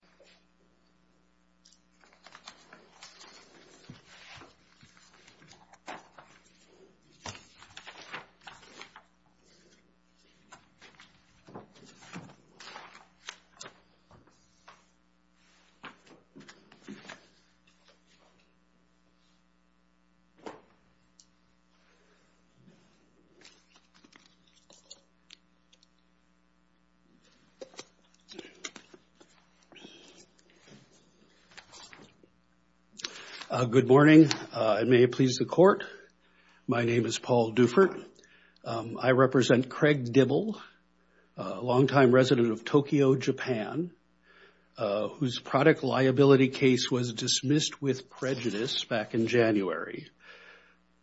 Tobacco Caffeine Limit. Good morning, and may it please the court. My name is Paul Dufert. I represent Craig Dibble, a longtime resident of Tokyo, Japan, whose product liability case was dismissed with prejudice back in January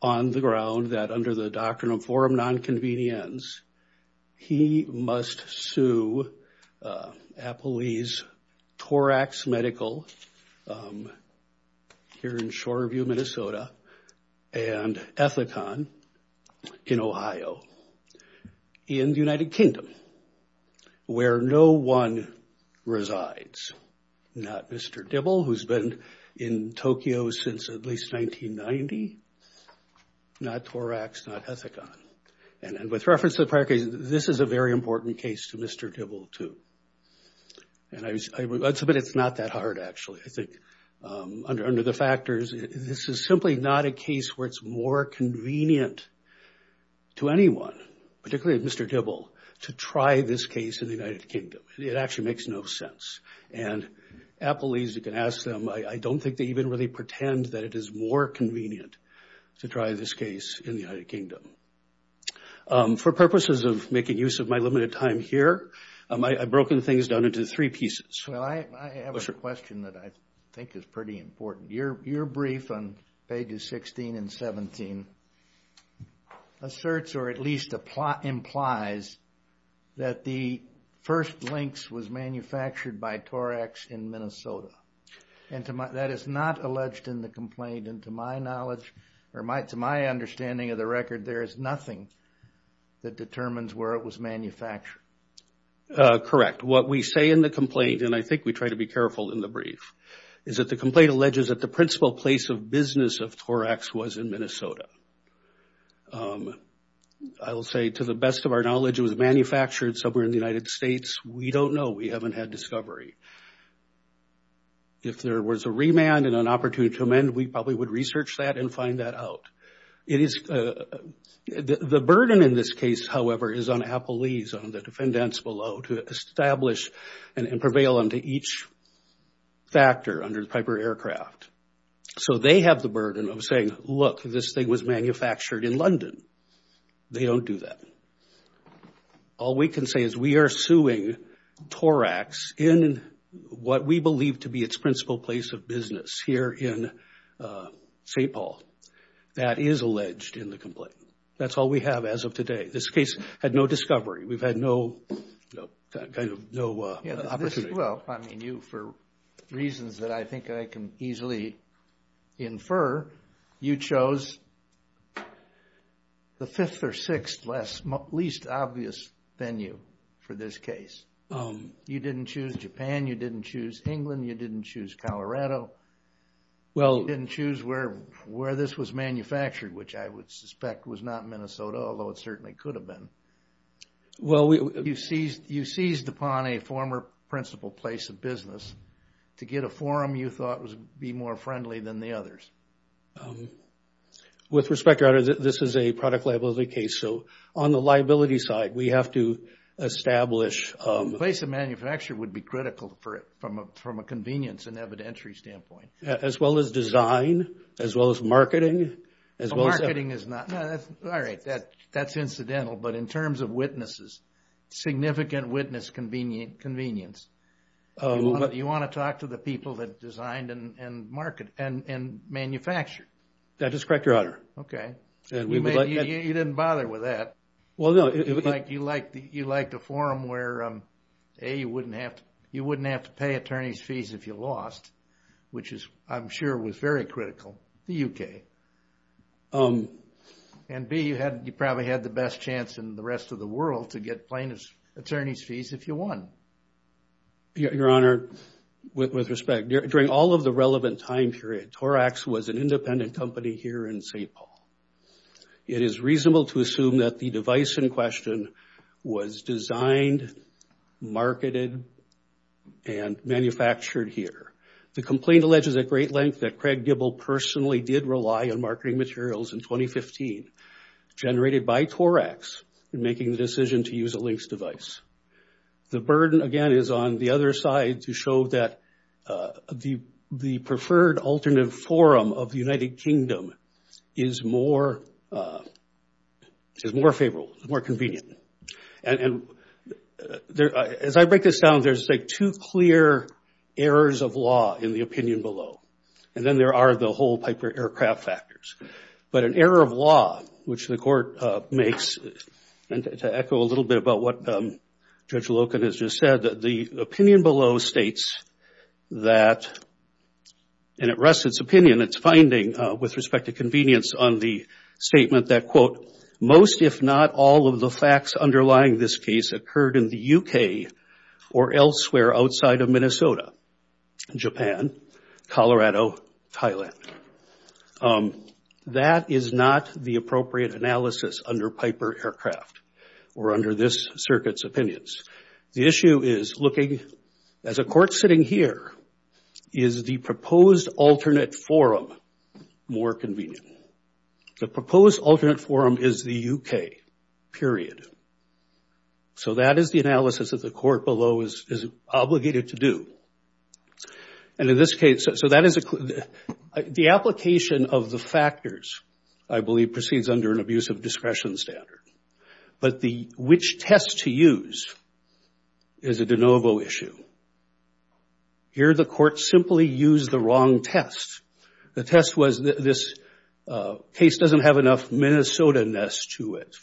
on the ground that under the Doctrine of Forum in Ohio, in the United Kingdom, where no one resides, not Mr. Dibble, who's been in Tokyo since at least 1990, not Torax, not Ethicon. And with reference to the prior case, this is a very important case to Mr. Dibble, too. And I would submit it's not that hard, actually, I think, under the factors. This is simply not a case where it's more convenient to anyone, particularly Mr. Dibble, to try this case in the United Kingdom. It actually makes no sense. And Applees, you can ask them, I don't think they even really pretend that it is more convenient to try this case in the United Kingdom. For purposes of making use of my limited time here, I've broken things down into three pieces. Well, I have a question that I think is pretty important. Your brief on pages 16 and 17 asserts, or at least implies, that the first Lynx was manufactured by Torax in Minnesota. And that is not alleged in the complaint. And to my knowledge, or to my understanding of the record, there is nothing that determines where it was manufactured. Correct. But what we say in the complaint, and I think we try to be careful in the brief, is that the complaint alleges that the principal place of business of Torax was in Minnesota. I will say, to the best of our knowledge, it was manufactured somewhere in the United States. We don't know. We haven't had discovery. If there was a remand and an opportunity to amend, we probably would research that and find that out. The burden in this case, however, is on Apple Lease, on the defendants below, to establish and prevail on each factor under the Piper Aircraft. So they have the burden of saying, look, this thing was manufactured in London. They don't do that. All we can say is we are suing Torax in what we believe to be its principal place of business here in St. Paul. That is alleged in the complaint. That's all we have as of today. This case had no discovery. We've had no opportunity. Well, I mean, you, for reasons that I think I can easily infer, you chose the fifth or sixth least obvious venue for this case. You didn't choose Japan. You didn't choose England. You didn't choose Colorado. You didn't choose where this was manufactured, which I would suspect was not Minnesota, although it certainly could have been. You seized upon a former principal place of business to get a forum you thought would be more friendly than the others. With respect, Your Honor, this is a product liability case, so on the liability side, we have to establish... The place of manufacture would be critical from a convenience and evidentiary standpoint. As well as design, as well as marketing, as well as... Marketing is not... No, that's... All right, that's incidental, but in terms of witnesses, significant witness convenience, you want to talk to the people that designed and manufactured. That is correct, Your Honor. Okay. And we would like... You didn't bother with that. Well, no. You liked a forum where, A, you wouldn't have to pay attorney's fees if you lost, which is, I'm sure, was very critical, the UK. And B, you probably had the best chance in the rest of the world to get plaintiff's attorney's fees if you won. Your Honor, with respect, during all of the relevant time period, Torax was an independent company here in St. Paul. It is reasonable to assume that the device in question was designed, marketed, and manufactured here. The complaint alleges at great length that Craig Gible personally did rely on marketing materials in 2015 generated by Torax in making the decision to use a LYNX device. The burden, again, is on the other side to show that the preferred alternate forum of the United Kingdom is more favorable, more convenient. As I break this down, there's two clear errors of law in the opinion below, and then there are the whole Piper aircraft factors. But an error of law, which the court makes, and to echo a little bit about what Judge with respect to convenience on the statement that, quote, most, if not all, of the facts underlying this case occurred in the UK or elsewhere outside of Minnesota, Japan, Colorado, Thailand. That is not the appropriate analysis under Piper aircraft or under this circuit's opinions. The issue is looking, as a court sitting here, is the proposed alternate forum more convenient? The proposed alternate forum is the UK, period. So that is the analysis that the court below is obligated to do. And in this case, so that is the application of the factors, I believe, proceeds under an abuse of discretion standard. But which test to use is a de novo issue. Here, the court simply used the wrong test. The test was this case doesn't have enough Minnesotaness to it.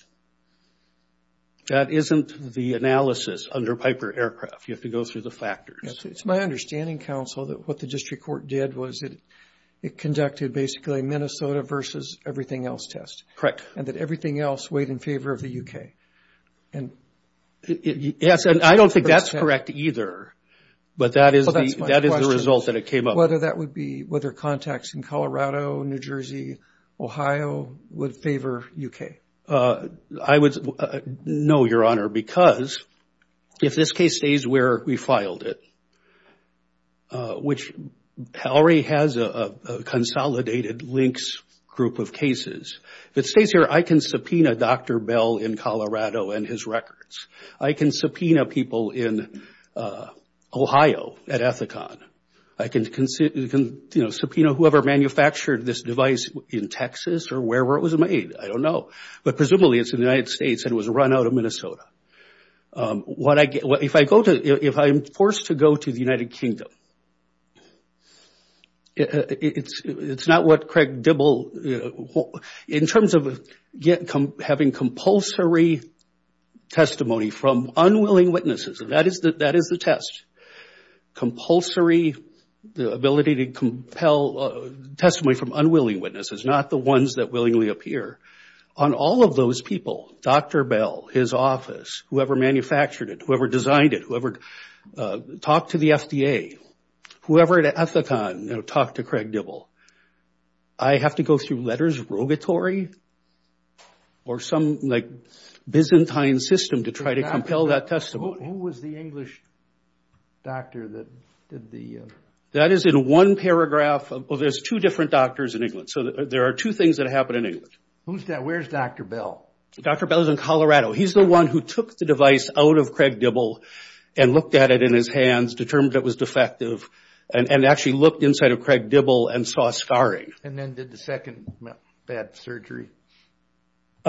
That isn't the analysis under Piper aircraft. You have to go through the factors. Yes, it's my understanding, counsel, that what the district court did was it conducted basically a Minnesota versus everything else test. Correct. And that everything else weighed in favor of the UK. And yes, and I don't think that's correct either. But that is the result that it came up. Whether that would be whether contacts in Colorado, New Jersey, Ohio would favor UK. I would say no, Your Honor, because if this case stays where we filed it, which Howery has a consolidated links group of cases, if it stays here, I can subpoena Dr. Bell in Colorado and his records. I can subpoena people in Ohio at Ethicon. I can, you know, subpoena whoever manufactured this device in Texas or wherever it was made. I don't know. But presumably, it's in the United States and it was run out of Minnesota. If I'm forced to go to the United Kingdom, it's not what Craig Dibble, in terms of having compulsory testimony from unwilling witnesses, that is the test, compulsory, the ability to compel testimony from unwilling witnesses, not the ones that willingly appear, on all of those people, Dr. Bell, his office, whoever manufactured it, whoever designed it, whoever talked to the FDA, whoever at Ethicon, you know, talked to Craig Dibble, I have to go through letters of rogatory or some like Byzantine system to try to compel that testimony. Who was the English doctor that did the... That is in one paragraph. Well, there's two different doctors in England. So there are two things that happen in England. Who's that? Where's Dr. Bell? Dr. Bell is in Colorado. He's the one who took the device out of Craig Dibble and looked at it in his hands, determined it was defective, and actually looked inside of Craig Dibble and saw a scarring. And then did the second bad surgery?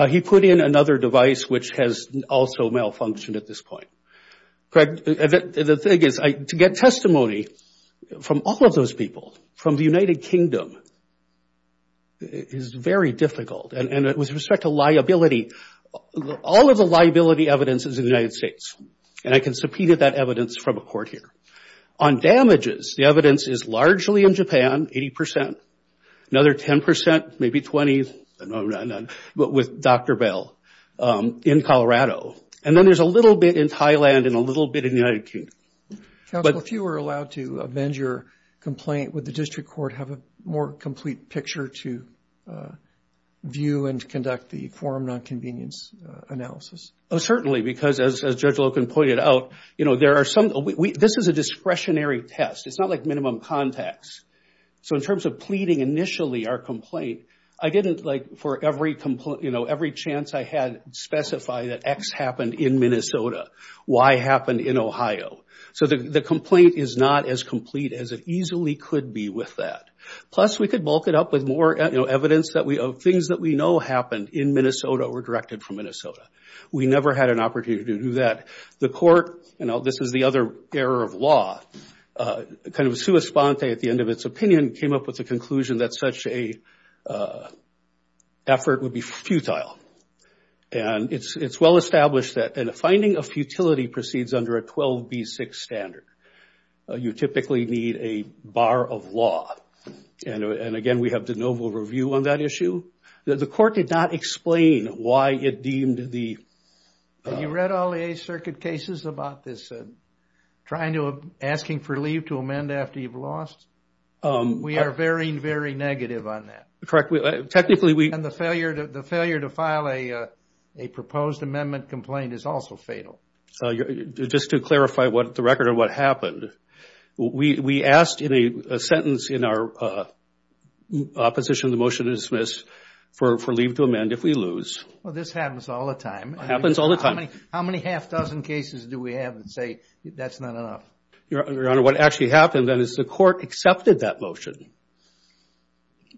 He put in another device, which has also malfunctioned at this point. Craig, the thing is, to get testimony from all of those people, from the United Kingdom, is very difficult. And with respect to liability, all of the liability evidence is in the United States. And I can subpoena that evidence from a court here. On damages, the evidence is largely in Japan, 80 percent. Another 10 percent, maybe 20, but with Dr. Bell in Colorado. And then there's a little bit in Thailand and a little bit in the United Kingdom. Counsel, if you were allowed to amend your complaint, would the district court have a more complete picture to view and conduct the forum non-convenience analysis? Certainly, because as Judge Loken pointed out, this is a discretionary test. It's not like minimum context. So in terms of pleading initially our complaint, I didn't, for every chance I had, specify that X happened in Minnesota, Y happened in Ohio. So the complaint is not as complete as it easily could be with that. Plus, we could bulk it up with more evidence of things that we know happened in Minnesota or were directed from Minnesota. We never had an opportunity to do that. The court, this is the other error of law, kind of sua sponte at the end of its opinion, came up with the conclusion that such a effort would be futile. And it's well-established that a finding of futility proceeds under a 12B6 standard. You typically need a bar of law. And again, we have de novo review on that issue. The court did not explain why it deemed the... You read all the Eighth Circuit cases about this, trying to, asking for leave to amend after you've lost? We are very, very negative on that. Correct. Technically, we... And the failure to file a proposed amendment complaint is also fatal. So just to clarify the record of what happened, we asked in a sentence in our opposition the motion to dismiss for leave to amend if we lose. Well, this happens all the time. Happens all the time. How many half dozen cases do we have that say that's not enough? Your Honor, what actually happened then is the court accepted that motion,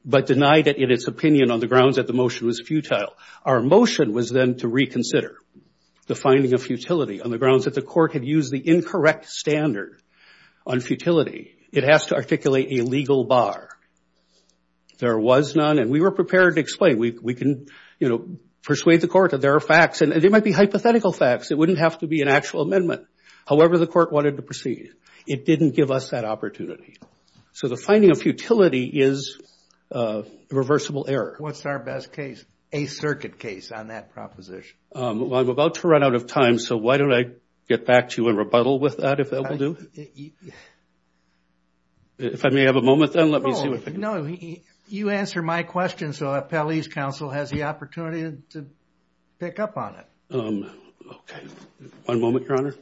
but denied it in its opinion on the grounds that the motion was futile. Our motion was then to reconsider the finding of futility on the grounds that the court had used the incorrect standard on futility. It has to articulate a legal bar. There was none, and we were prepared to explain. We can, you know, persuade the court that there are facts, and they might be hypothetical facts. It wouldn't have to be an actual amendment. However, the court wanted to proceed. It didn't give us that opportunity. So the finding of futility is a reversible error. What's our best case? A circuit case on that proposition. Well, I'm about to run out of time. So why don't I get back to you and rebuttal with that, if that will do? If I may have a moment then, let me see what I can do. No, you answer my question so Appellee's Counsel has the opportunity to pick up on it. Okay. One moment, Your Honor.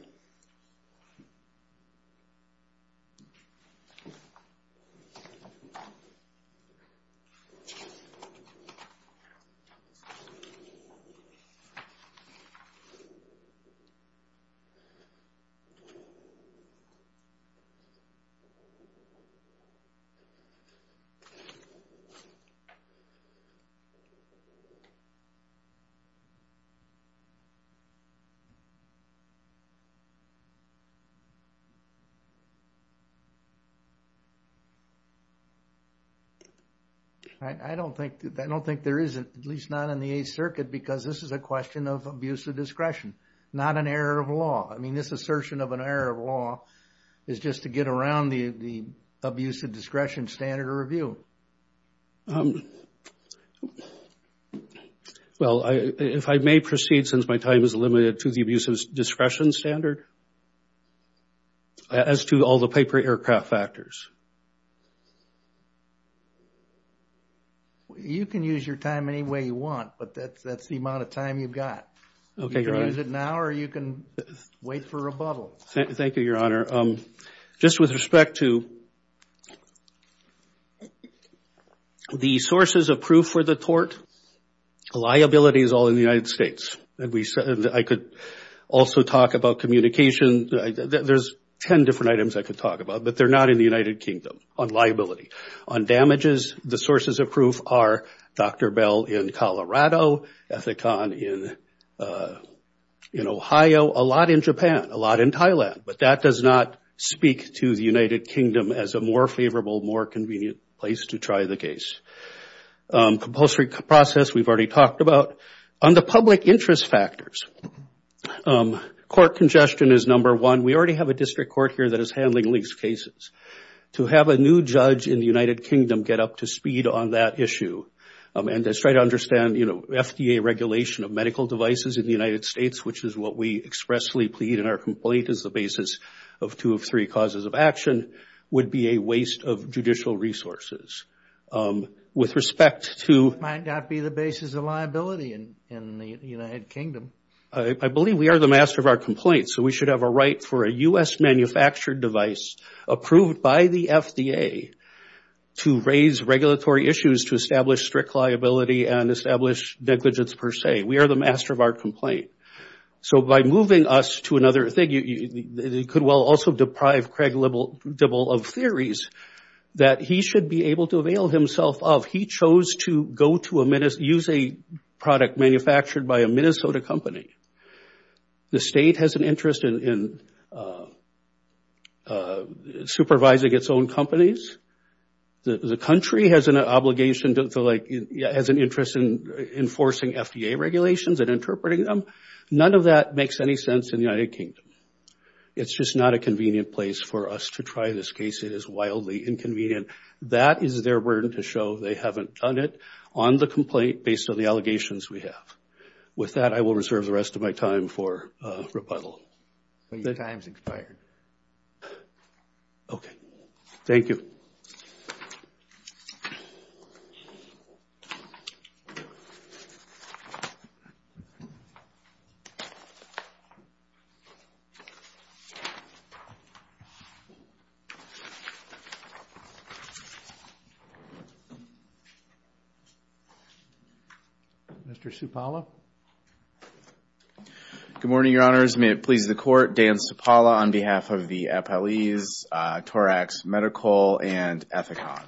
I don't think there is, at least not in the Eighth Circuit, because this is a question of abuse of discretion, not an error of law. I mean, this assertion of an error of law is just to get around the abuse of discretion standard of review. Well, if I may proceed, since my time is limited to the abuse of discretion standard, as to all the paper aircraft factors. You can use your time any way you want, but that's the amount of time you've got. Okay, Your Honor. You can use it now or you can wait for rebuttal. Thank you, Your Honor. Just with respect to the sources of proof for the tort, liability is all in the United States. And I could also talk about communication. There's 10 different items I could talk about, but they're not in the United Kingdom on liability. On damages, the sources of proof are Dr. Bell in Colorado, Ethicon in Ohio, a lot in Japan, a lot in Thailand. But that does not speak to the United Kingdom as a more favorable, more convenient place to try the case. Compulsory process, we've already talked about. On the public interest factors, court congestion is number one. We already have a district court here that is handling leased cases. To have a new judge in the United Kingdom get up to speed on that issue, and to try to understand, you know, FDA regulation of medical devices in the United States, which is what we expressly plead in our complaint as the basis of two of three causes of action, would be a waste of judicial resources. With respect to... Might not be the basis of liability in the United Kingdom. I believe we are the master of our complaint, so we should have a right for a U.S. manufactured device approved by the FDA to raise regulatory issues to establish strict liability and establish negligence per se. We are the master of our complaint. So by moving us to another thing, it could well also deprive Craig Dibble of theories that he should be able to avail himself of. He chose to use a product manufactured by a Minnesota company. The state has an interest in supervising its own companies. The country has an obligation to, like, has an interest in enforcing FDA regulations and interpreting them. None of that makes any sense in the United Kingdom. It's just not a convenient place for us to try this case. It is wildly inconvenient. That is their burden to show they haven't done it on the complaint based on the allegations we have. With that, I will reserve the rest of my time for rebuttal. Your time's expired. Okay. Thank you. Mr. Cipolla? Good morning, Your Honors. May it please the Court, Dan Cipolla on behalf of the appellees, Torax Medical and Ethicon.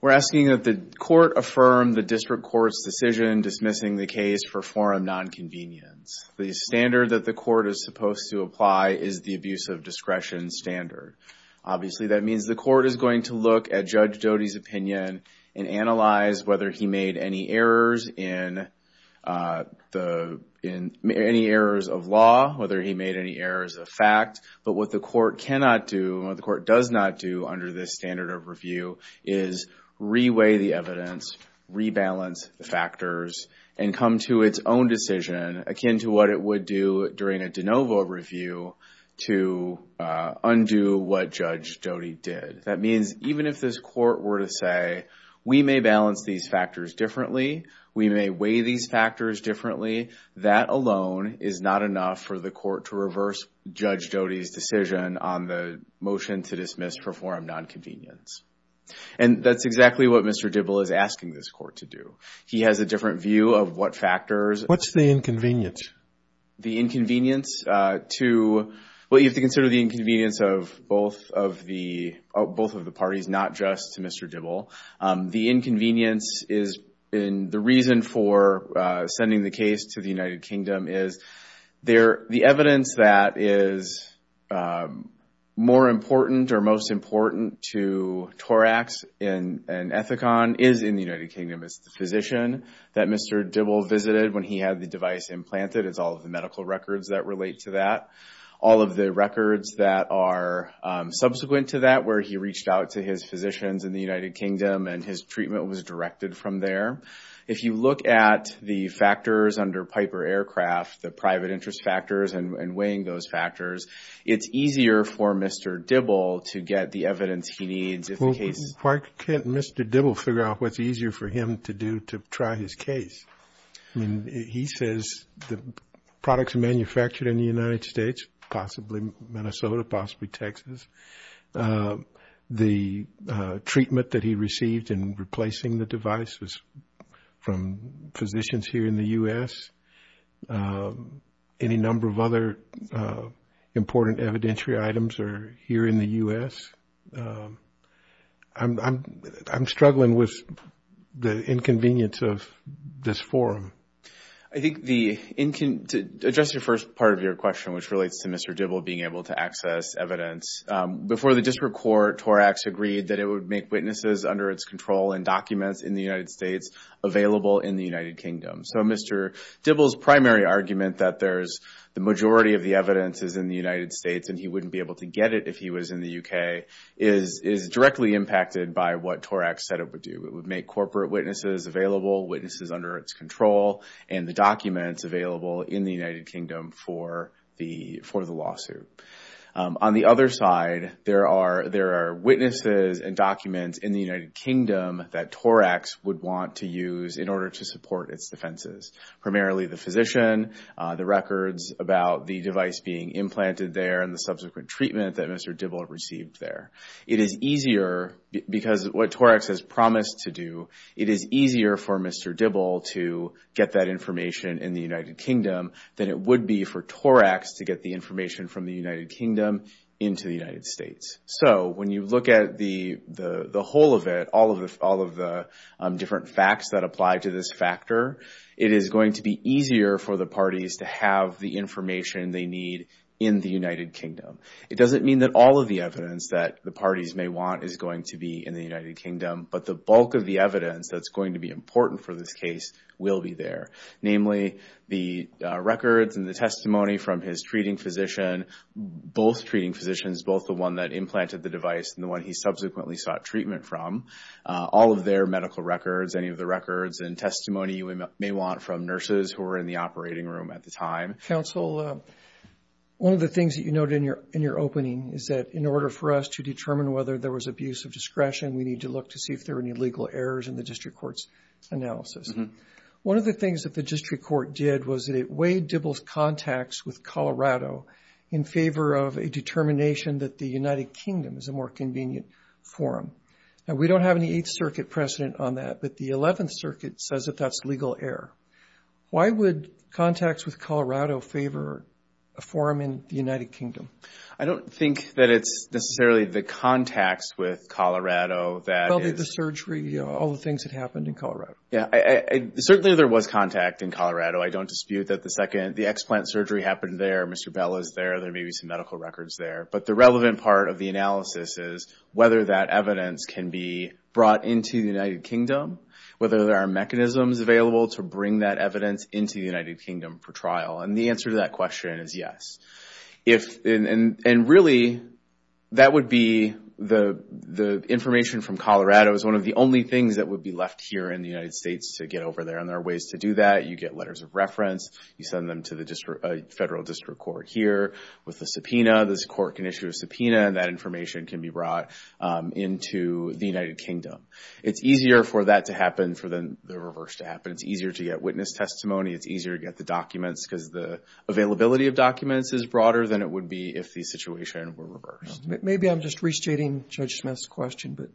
We're asking that the Court affirm the District Court's decision dismissing the case for forum nonconvenience. The standard that the Court is supposed to apply is the abuse of discretion standard. Obviously, that means the Court is going to look at Judge Doty's opinion and analyze whether he made any errors in the, in any errors of law, whether he made any errors of fact. But what the Court cannot do, what the Court does not do under this standard of review is reweigh the evidence, rebalance the factors, and come to its own decision akin to what it would do during a de novo review to undo what Judge Doty did. That means even if this Court were to say, we may balance these factors differently, we may weigh these factors differently, that alone is not enough for the Court to reverse Judge Doty's decision on the motion to dismiss for forum nonconvenience. And that's exactly what Mr. Dibble is asking this Court to do. He has a different view of what factors. What's the inconvenience? The inconvenience to, well, you have to consider the inconvenience of both of the, both of the parties, not just to Mr. Dibble. The inconvenience is, and the reason for sending the case to the United Kingdom is there, the evidence that is more important or most important to Torax and Ethicon is in the United Kingdom. It's the physician that Mr. Dibble visited when he had the device implanted. It's all of the medical records that relate to that. All of the records that are subsequent to that, where he reached out to his physicians in the United Kingdom and his treatment was directed from there. If you look at the factors under Piper Aircraft, the private interest factors and weighing those factors, it's easier for Mr. Dibble to get the evidence he needs. Why can't Mr. Dibble figure out what's easier for him to do to try his case? I mean, he says the products manufactured in the United States, possibly Minnesota, possibly Texas, the treatment that he received in replacing the devices from physicians here in the U.S., any number of other important evidentiary items are here in the U.S. I'm struggling with the inconvenience of this forum. I think the, to address the first part of your question, which relates to Mr. Dibble being able to access evidence, before the district court, Torax agreed that it would make witnesses under its control and documents in the United States available in the United Kingdom. So Mr. Dibble's primary argument that there's, the majority of the evidence is in the United States and he wouldn't be able to get it if he was in the U.K. is directly impacted by what Torax said it would do. It would make corporate witnesses available, witnesses under its control, and the documents available in the United Kingdom for the lawsuit. On the other side, there are witnesses and documents in the United Kingdom that Torax would want to use in order to support its defenses. Primarily the physician, the records about the device being implanted there, and the subsequent treatment that Mr. Dibble received there. It is easier, because of what Torax has promised to do, it is easier for Mr. Dibble to get that information in the United Kingdom than it would be for Torax to get the information from the United Kingdom into the United States. So when you look at the whole of it, all of the different facts that apply to this factor, it is going to be easier for the parties to have the information they need in the United Kingdom. It doesn't mean that all of the evidence that the parties may want is going to be in the United Kingdom, but the bulk of the evidence that is going to be important for this case will be there. Namely, the records and the testimony from his treating physician, both treating physicians, both the one that implanted the device and the one he subsequently sought treatment from. All of their medical records, any of the records and testimony you may want from nurses who were in the operating room at the time. Counsel, one of the things that you noted in your opening is that in order for us to determine whether there was abuse of discretion, we need to look to see if there are any legal errors in the district court's analysis. One of the things that the district court did was that it weighed Dibble's contacts with Colorado in favor of a determination that the United Kingdom is a more convenient forum. Now, we don't have any Eighth Circuit precedent on that, but the Eleventh Circuit says that that's legal error. Why would contacts with Colorado favor a forum in the United Kingdom? I don't think that it's necessarily the contacts with Colorado that is... Probably the surgery, all the things that happened in Colorado. Yeah, certainly there was contact in Colorado. I don't dispute that the second the explant surgery happened there, Mr. Bell is there, there may be some medical records there. But the relevant part of the analysis is whether that evidence can be brought into the United Kingdom, whether there are mechanisms available to bring that evidence into the United Kingdom for trial. And the answer to that question is yes. And really, that would be the information from Colorado is one of the only things that would be left here in the United States to get over there. And there are ways to do that. You get letters of reference. You send them to the federal district court here with a subpoena. This court can issue a subpoena and that information can be brought into the United Kingdom. It's easier for that to happen for the reverse to happen. It's easier to get witness testimony. It's easier to get the documents because the availability of documents is broader than it would be if the situation were reversed. Maybe I'm just restating Judge Smith's question, but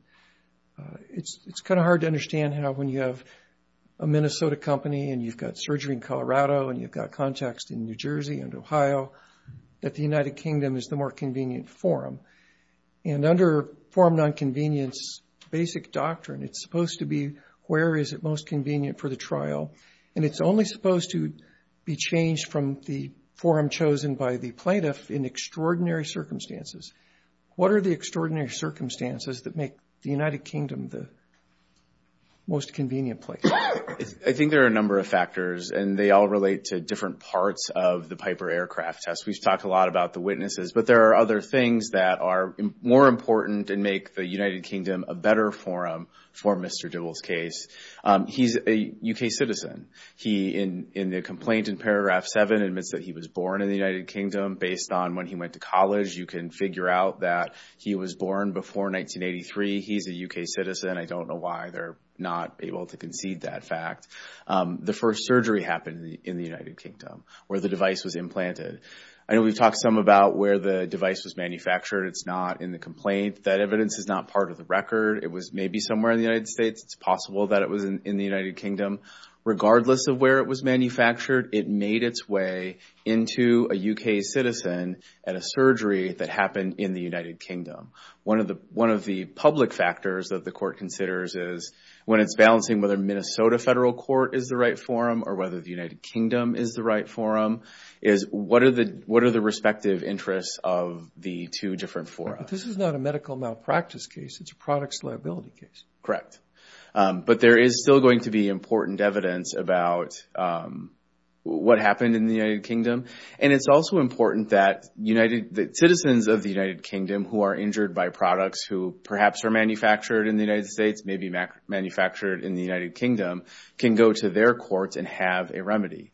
it's kind of hard to understand how when you have a Minnesota company and you've got surgery in Colorado and you've got contacts in New Jersey and Ohio, that the United Kingdom is the more convenient forum. And under forum non-convenience basic doctrine, it's supposed to be where is it most convenient for the trial. And it's only supposed to be changed from the forum chosen by the plaintiff in extraordinary circumstances. What are the extraordinary circumstances that make the United Kingdom the most convenient place? I think there are a number of factors and they all relate to different parts of the Piper Aircraft Test. We've talked a lot about the witnesses, but there are other things that are more important and make the United Kingdom a better forum for Mr. Dibble's case. He's a U.K. citizen. He, in the complaint in paragraph seven, admits that he was born in the United Kingdom based on when he went to college. You can figure out that he was born before 1983. He's a U.K. citizen. I don't know why they're not able to concede that fact. The first surgery happened in the United Kingdom where the device was implanted. I know we've talked some about where the device was manufactured. It's not in the complaint. That evidence is not part of the record. It was maybe somewhere in the United States. It's possible that it was in the United Kingdom. Regardless of where it was manufactured, it made its way into a U.K. citizen at a surgery that happened in the United Kingdom. One of the public factors that the court considers is when it's balancing whether Minnesota Federal Court is the right forum or whether the United Kingdom is the right forum, is what are the respective interests of the two different forums? This is not a medical malpractice case. It's a products liability case. Correct, but there is still going to be important evidence about what happened in the United Kingdom. It's also important that citizens of the United Kingdom who are injured by products who perhaps are manufactured in the United States, maybe manufactured in the United Kingdom, can go to their courts and have a remedy.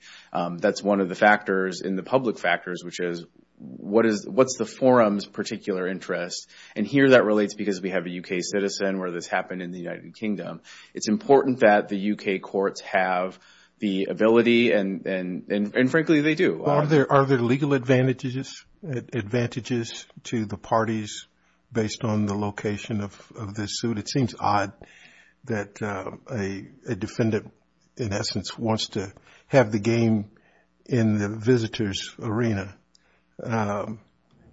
That's one of the public factors, which is what's the forum's particular interest? Here that relates because we have a U.K. citizen where this happened in the United Kingdom. It's important that the U.K. courts have the ability, and frankly, they do. Are there legal advantages to the parties based on the location of the suit? It seems odd that a defendant, in essence, wants to have the game in the visitor's arena.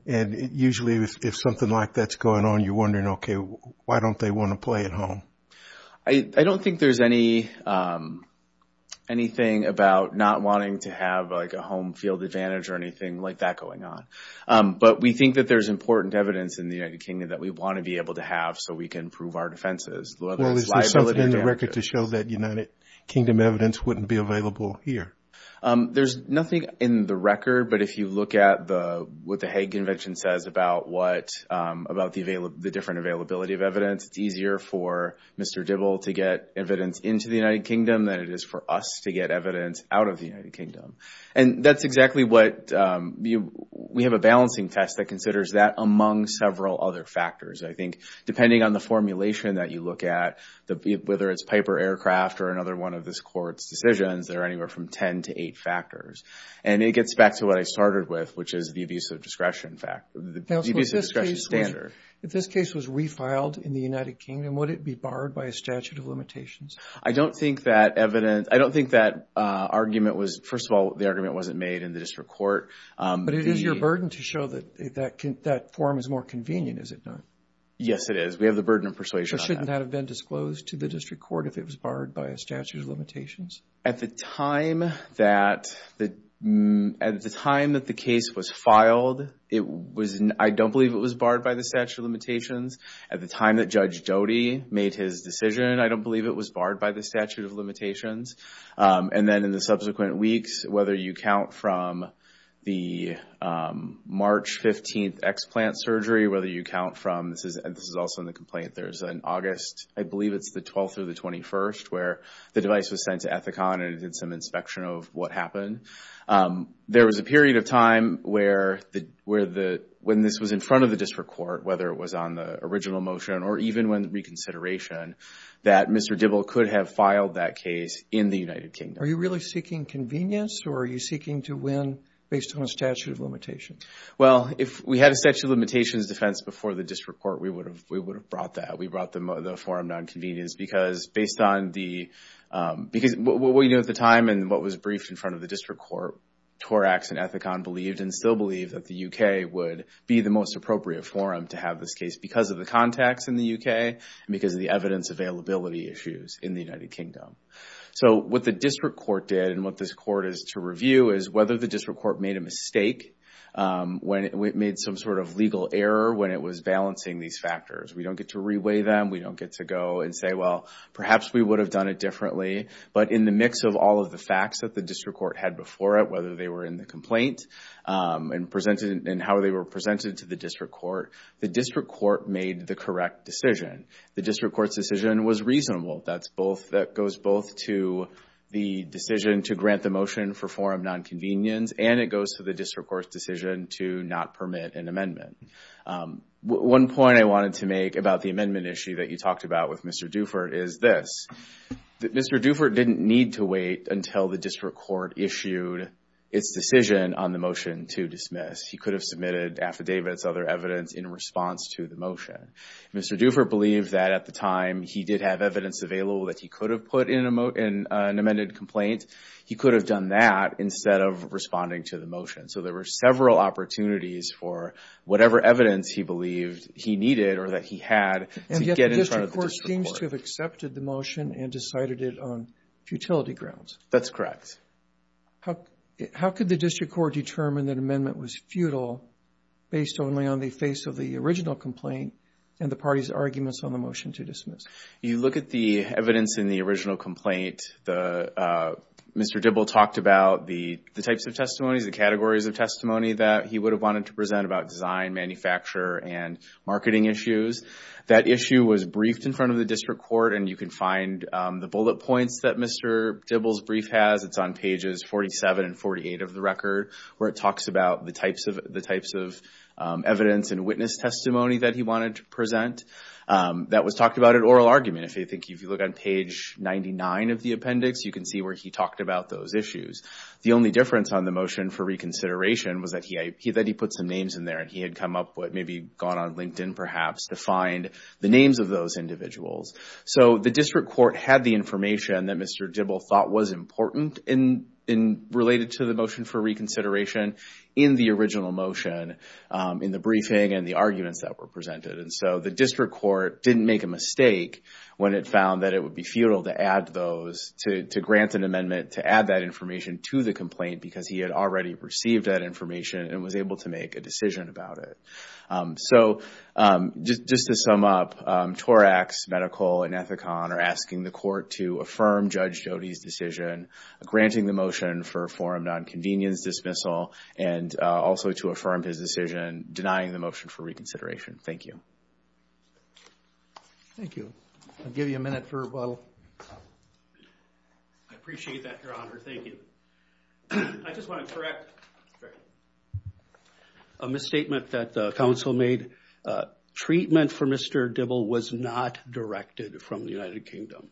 Usually, if something like that's going on, you're wondering, okay, why don't they want to play at home? I don't think there's anything about not wanting to have a home field advantage or anything like that going on. But we think that there's important evidence in the United Kingdom that we want to be able to have so we can prove our defenses. Well, is there something in the record to show that United Kingdom evidence wouldn't be available here? There's nothing in the record, but if you look at what the Hague Convention says about the different availability of evidence, it's easier for Mr. Dibble to get evidence into the United Kingdom than it is for us to get evidence out of the United Kingdom. And that's exactly what we have a balancing test that considers that among several other factors. I think depending on the formulation that you look at, whether it's Piper Aircraft or another one of this court's decisions, there are anywhere from ten to eight factors. And it gets back to what I started with, which is the abuse of discretion standard. If this case was refiled in the United Kingdom, would it be barred by a statute of limitations? I don't think that argument was, first of all, the argument wasn't made in the district court. But it is your burden to show that that form is more convenient, is it not? Yes, it is. We have the burden of persuasion. Shouldn't that have been disclosed to the district court if it was barred by a statute of limitations? At the time that the case was filed, I don't believe it was barred by the statute of limitations. At the time that Judge Doty made his decision, I don't believe it was barred by the statute of limitations. And then in the subsequent weeks, whether you count from the March 15th explant surgery, whether you count from, this is also in the complaint, there's an August, I believe it's the 12th or the 21st, where the device was sent to Ethicon and it did some inspection of what happened. There was a period of time when this was in front of the district court, whether it was on the original motion or even when the reconsideration, that Mr. Dibble could have filed that case in the United Kingdom. Are you really seeking convenience or are you seeking to win based on a statute of limitations? Well, if we had a statute of limitations defense before the district court, we would have brought that. We brought the forum non-convenience because based on what we knew at the time and what was briefed in front of the district court, Torax and Ethicon believed and still believe that the UK would be the most appropriate forum to have this case because of the context in the UK and because of the evidence availability issues in the United Kingdom. So what the district court did and what this court is to review is whether the district court made a mistake, when it made some sort of legal error when it was balancing these factors. We don't get to reweigh them. We don't get to go and say, well, perhaps we would have done it differently. But in the mix of all of the facts that the district court had before it, whether they were in the complaint and presented and how they were presented to the district court, the district court made the correct decision. The district court's decision was reasonable. That goes both to the decision to grant the motion for forum non-convenience and it goes to the district court's decision to not permit an amendment. One point I wanted to make about the amendment issue that you talked about with Mr. Dufert is this. Mr. Dufert didn't need to wait until the district court issued its decision on the motion to dismiss. He could have submitted affidavits, other evidence in response to the motion. Mr. Dufert believed that at the time he did have evidence available that he could have put in an amended complaint. He could have done that instead of responding to the motion. So there were several opportunities for whatever evidence he believed he needed or that he had to get in front of the district court. And yet the district court seems to have accepted the motion and decided it on futility grounds. That's correct. How could the district court determine that amendment was futile based only on the face of the original complaint and the party's arguments on the motion to dismiss? You look at the evidence in the original complaint. Mr. Dibble talked about the types of testimonies, the categories of testimony that he would have wanted to present about design, manufacturer, and marketing issues. That issue was briefed in front of the district court and you can find the bullet points that Mr. Dibble's brief has. It's on pages 47 and 48 of the record where it talks about the types of evidence and witness testimony that he wanted to present. That was talked about at oral argument. I think if you look on page 99 of the appendix, you can see where he talked about those issues. The only difference on the motion for reconsideration was that he put some names in there and he had come up with maybe gone on LinkedIn perhaps to find the names of those individuals. So the district court had the information that Mr. Dibble thought was important related to the motion for reconsideration in the original motion, in the briefing and the arguments that were presented. And so the district court didn't make a mistake when it found that it would be futile to add those, to grant an amendment to add that information to the complaint because he had already received that information and was able to make a decision about it. So just to sum up, Torax Medical and Ethicon are asking the court to affirm Judge Jody's decision, granting the motion for a forum non-convenience dismissal and also to affirm his decision, denying the motion for reconsideration. Thank you. Thank you. I'll give you a minute for rebuttal. I appreciate that, Your Honor. Thank you. I just want to correct a misstatement that the council made. Treatment for Mr. Dibble was not directed from the United Kingdom.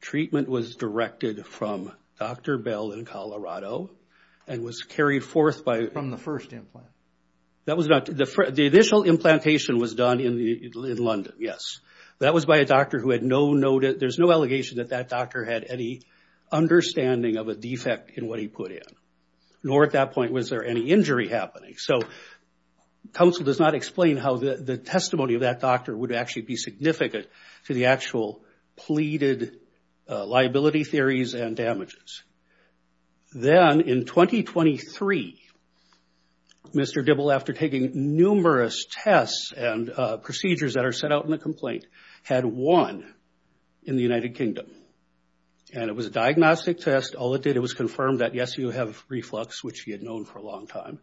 Treatment was directed from Dr. Bell in Colorado and was carried forth by... From the first implant. That was not... The initial implantation was done in London, yes. That was by a doctor who had no... There's no allegation that that doctor had any understanding of a defect in what he put in, nor at that point was there any injury happening. So council does not explain how the testimony of that doctor would actually be significant to the actual pleaded liability theories and damages. Then in 2023, Mr. Dibble, after taking numerous tests and procedures that are set out in the complaint, had one in the United Kingdom. And it was a diagnostic test. All it did, it was confirmed that, yes, you have reflux, which he had known for a long time.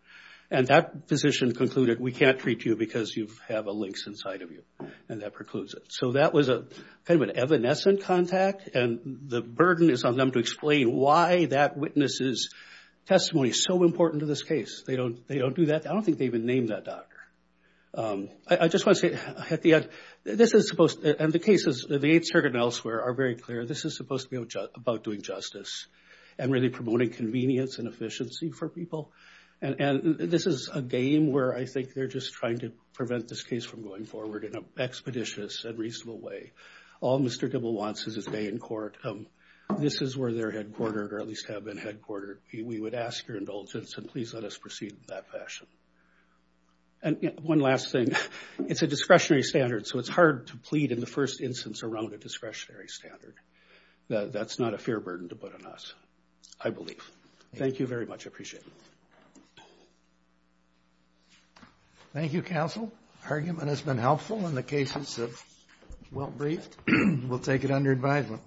And that physician concluded, we can't treat you because you have a lynx inside of you. And that precludes it. So that was kind of an evanescent contact. And the burden is on them to explain why that witness's testimony is so important to this case. They don't do that. I don't think they even named that doctor. I just want to say, at the end, this is supposed... And the cases, the Eighth Circuit and elsewhere are very clear. This is supposed to be about doing justice and really promoting convenience and efficiency for people. And this is a game where I think they're just trying to prevent this case from going forward in an expeditious and reasonable way. All Mr. Dibble wants is his day in court. This is where they're headquartered, or at least have been headquartered. We would ask your indulgence, and please let us proceed in that fashion. And one last thing. It's a discretionary standard, so it's hard to plead in the first instance around a discretionary standard. That's not a fair burden to put on us, I believe. Thank you very much. I appreciate it. Thank you, counsel. Argument has been helpful in the cases well-briefed. We'll take it under advisement.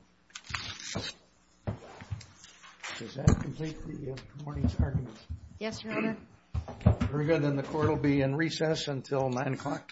Does that complete the morning's argument? Yes, your honor. Very good. Then the court will be in recess until nine o'clock tomorrow morning.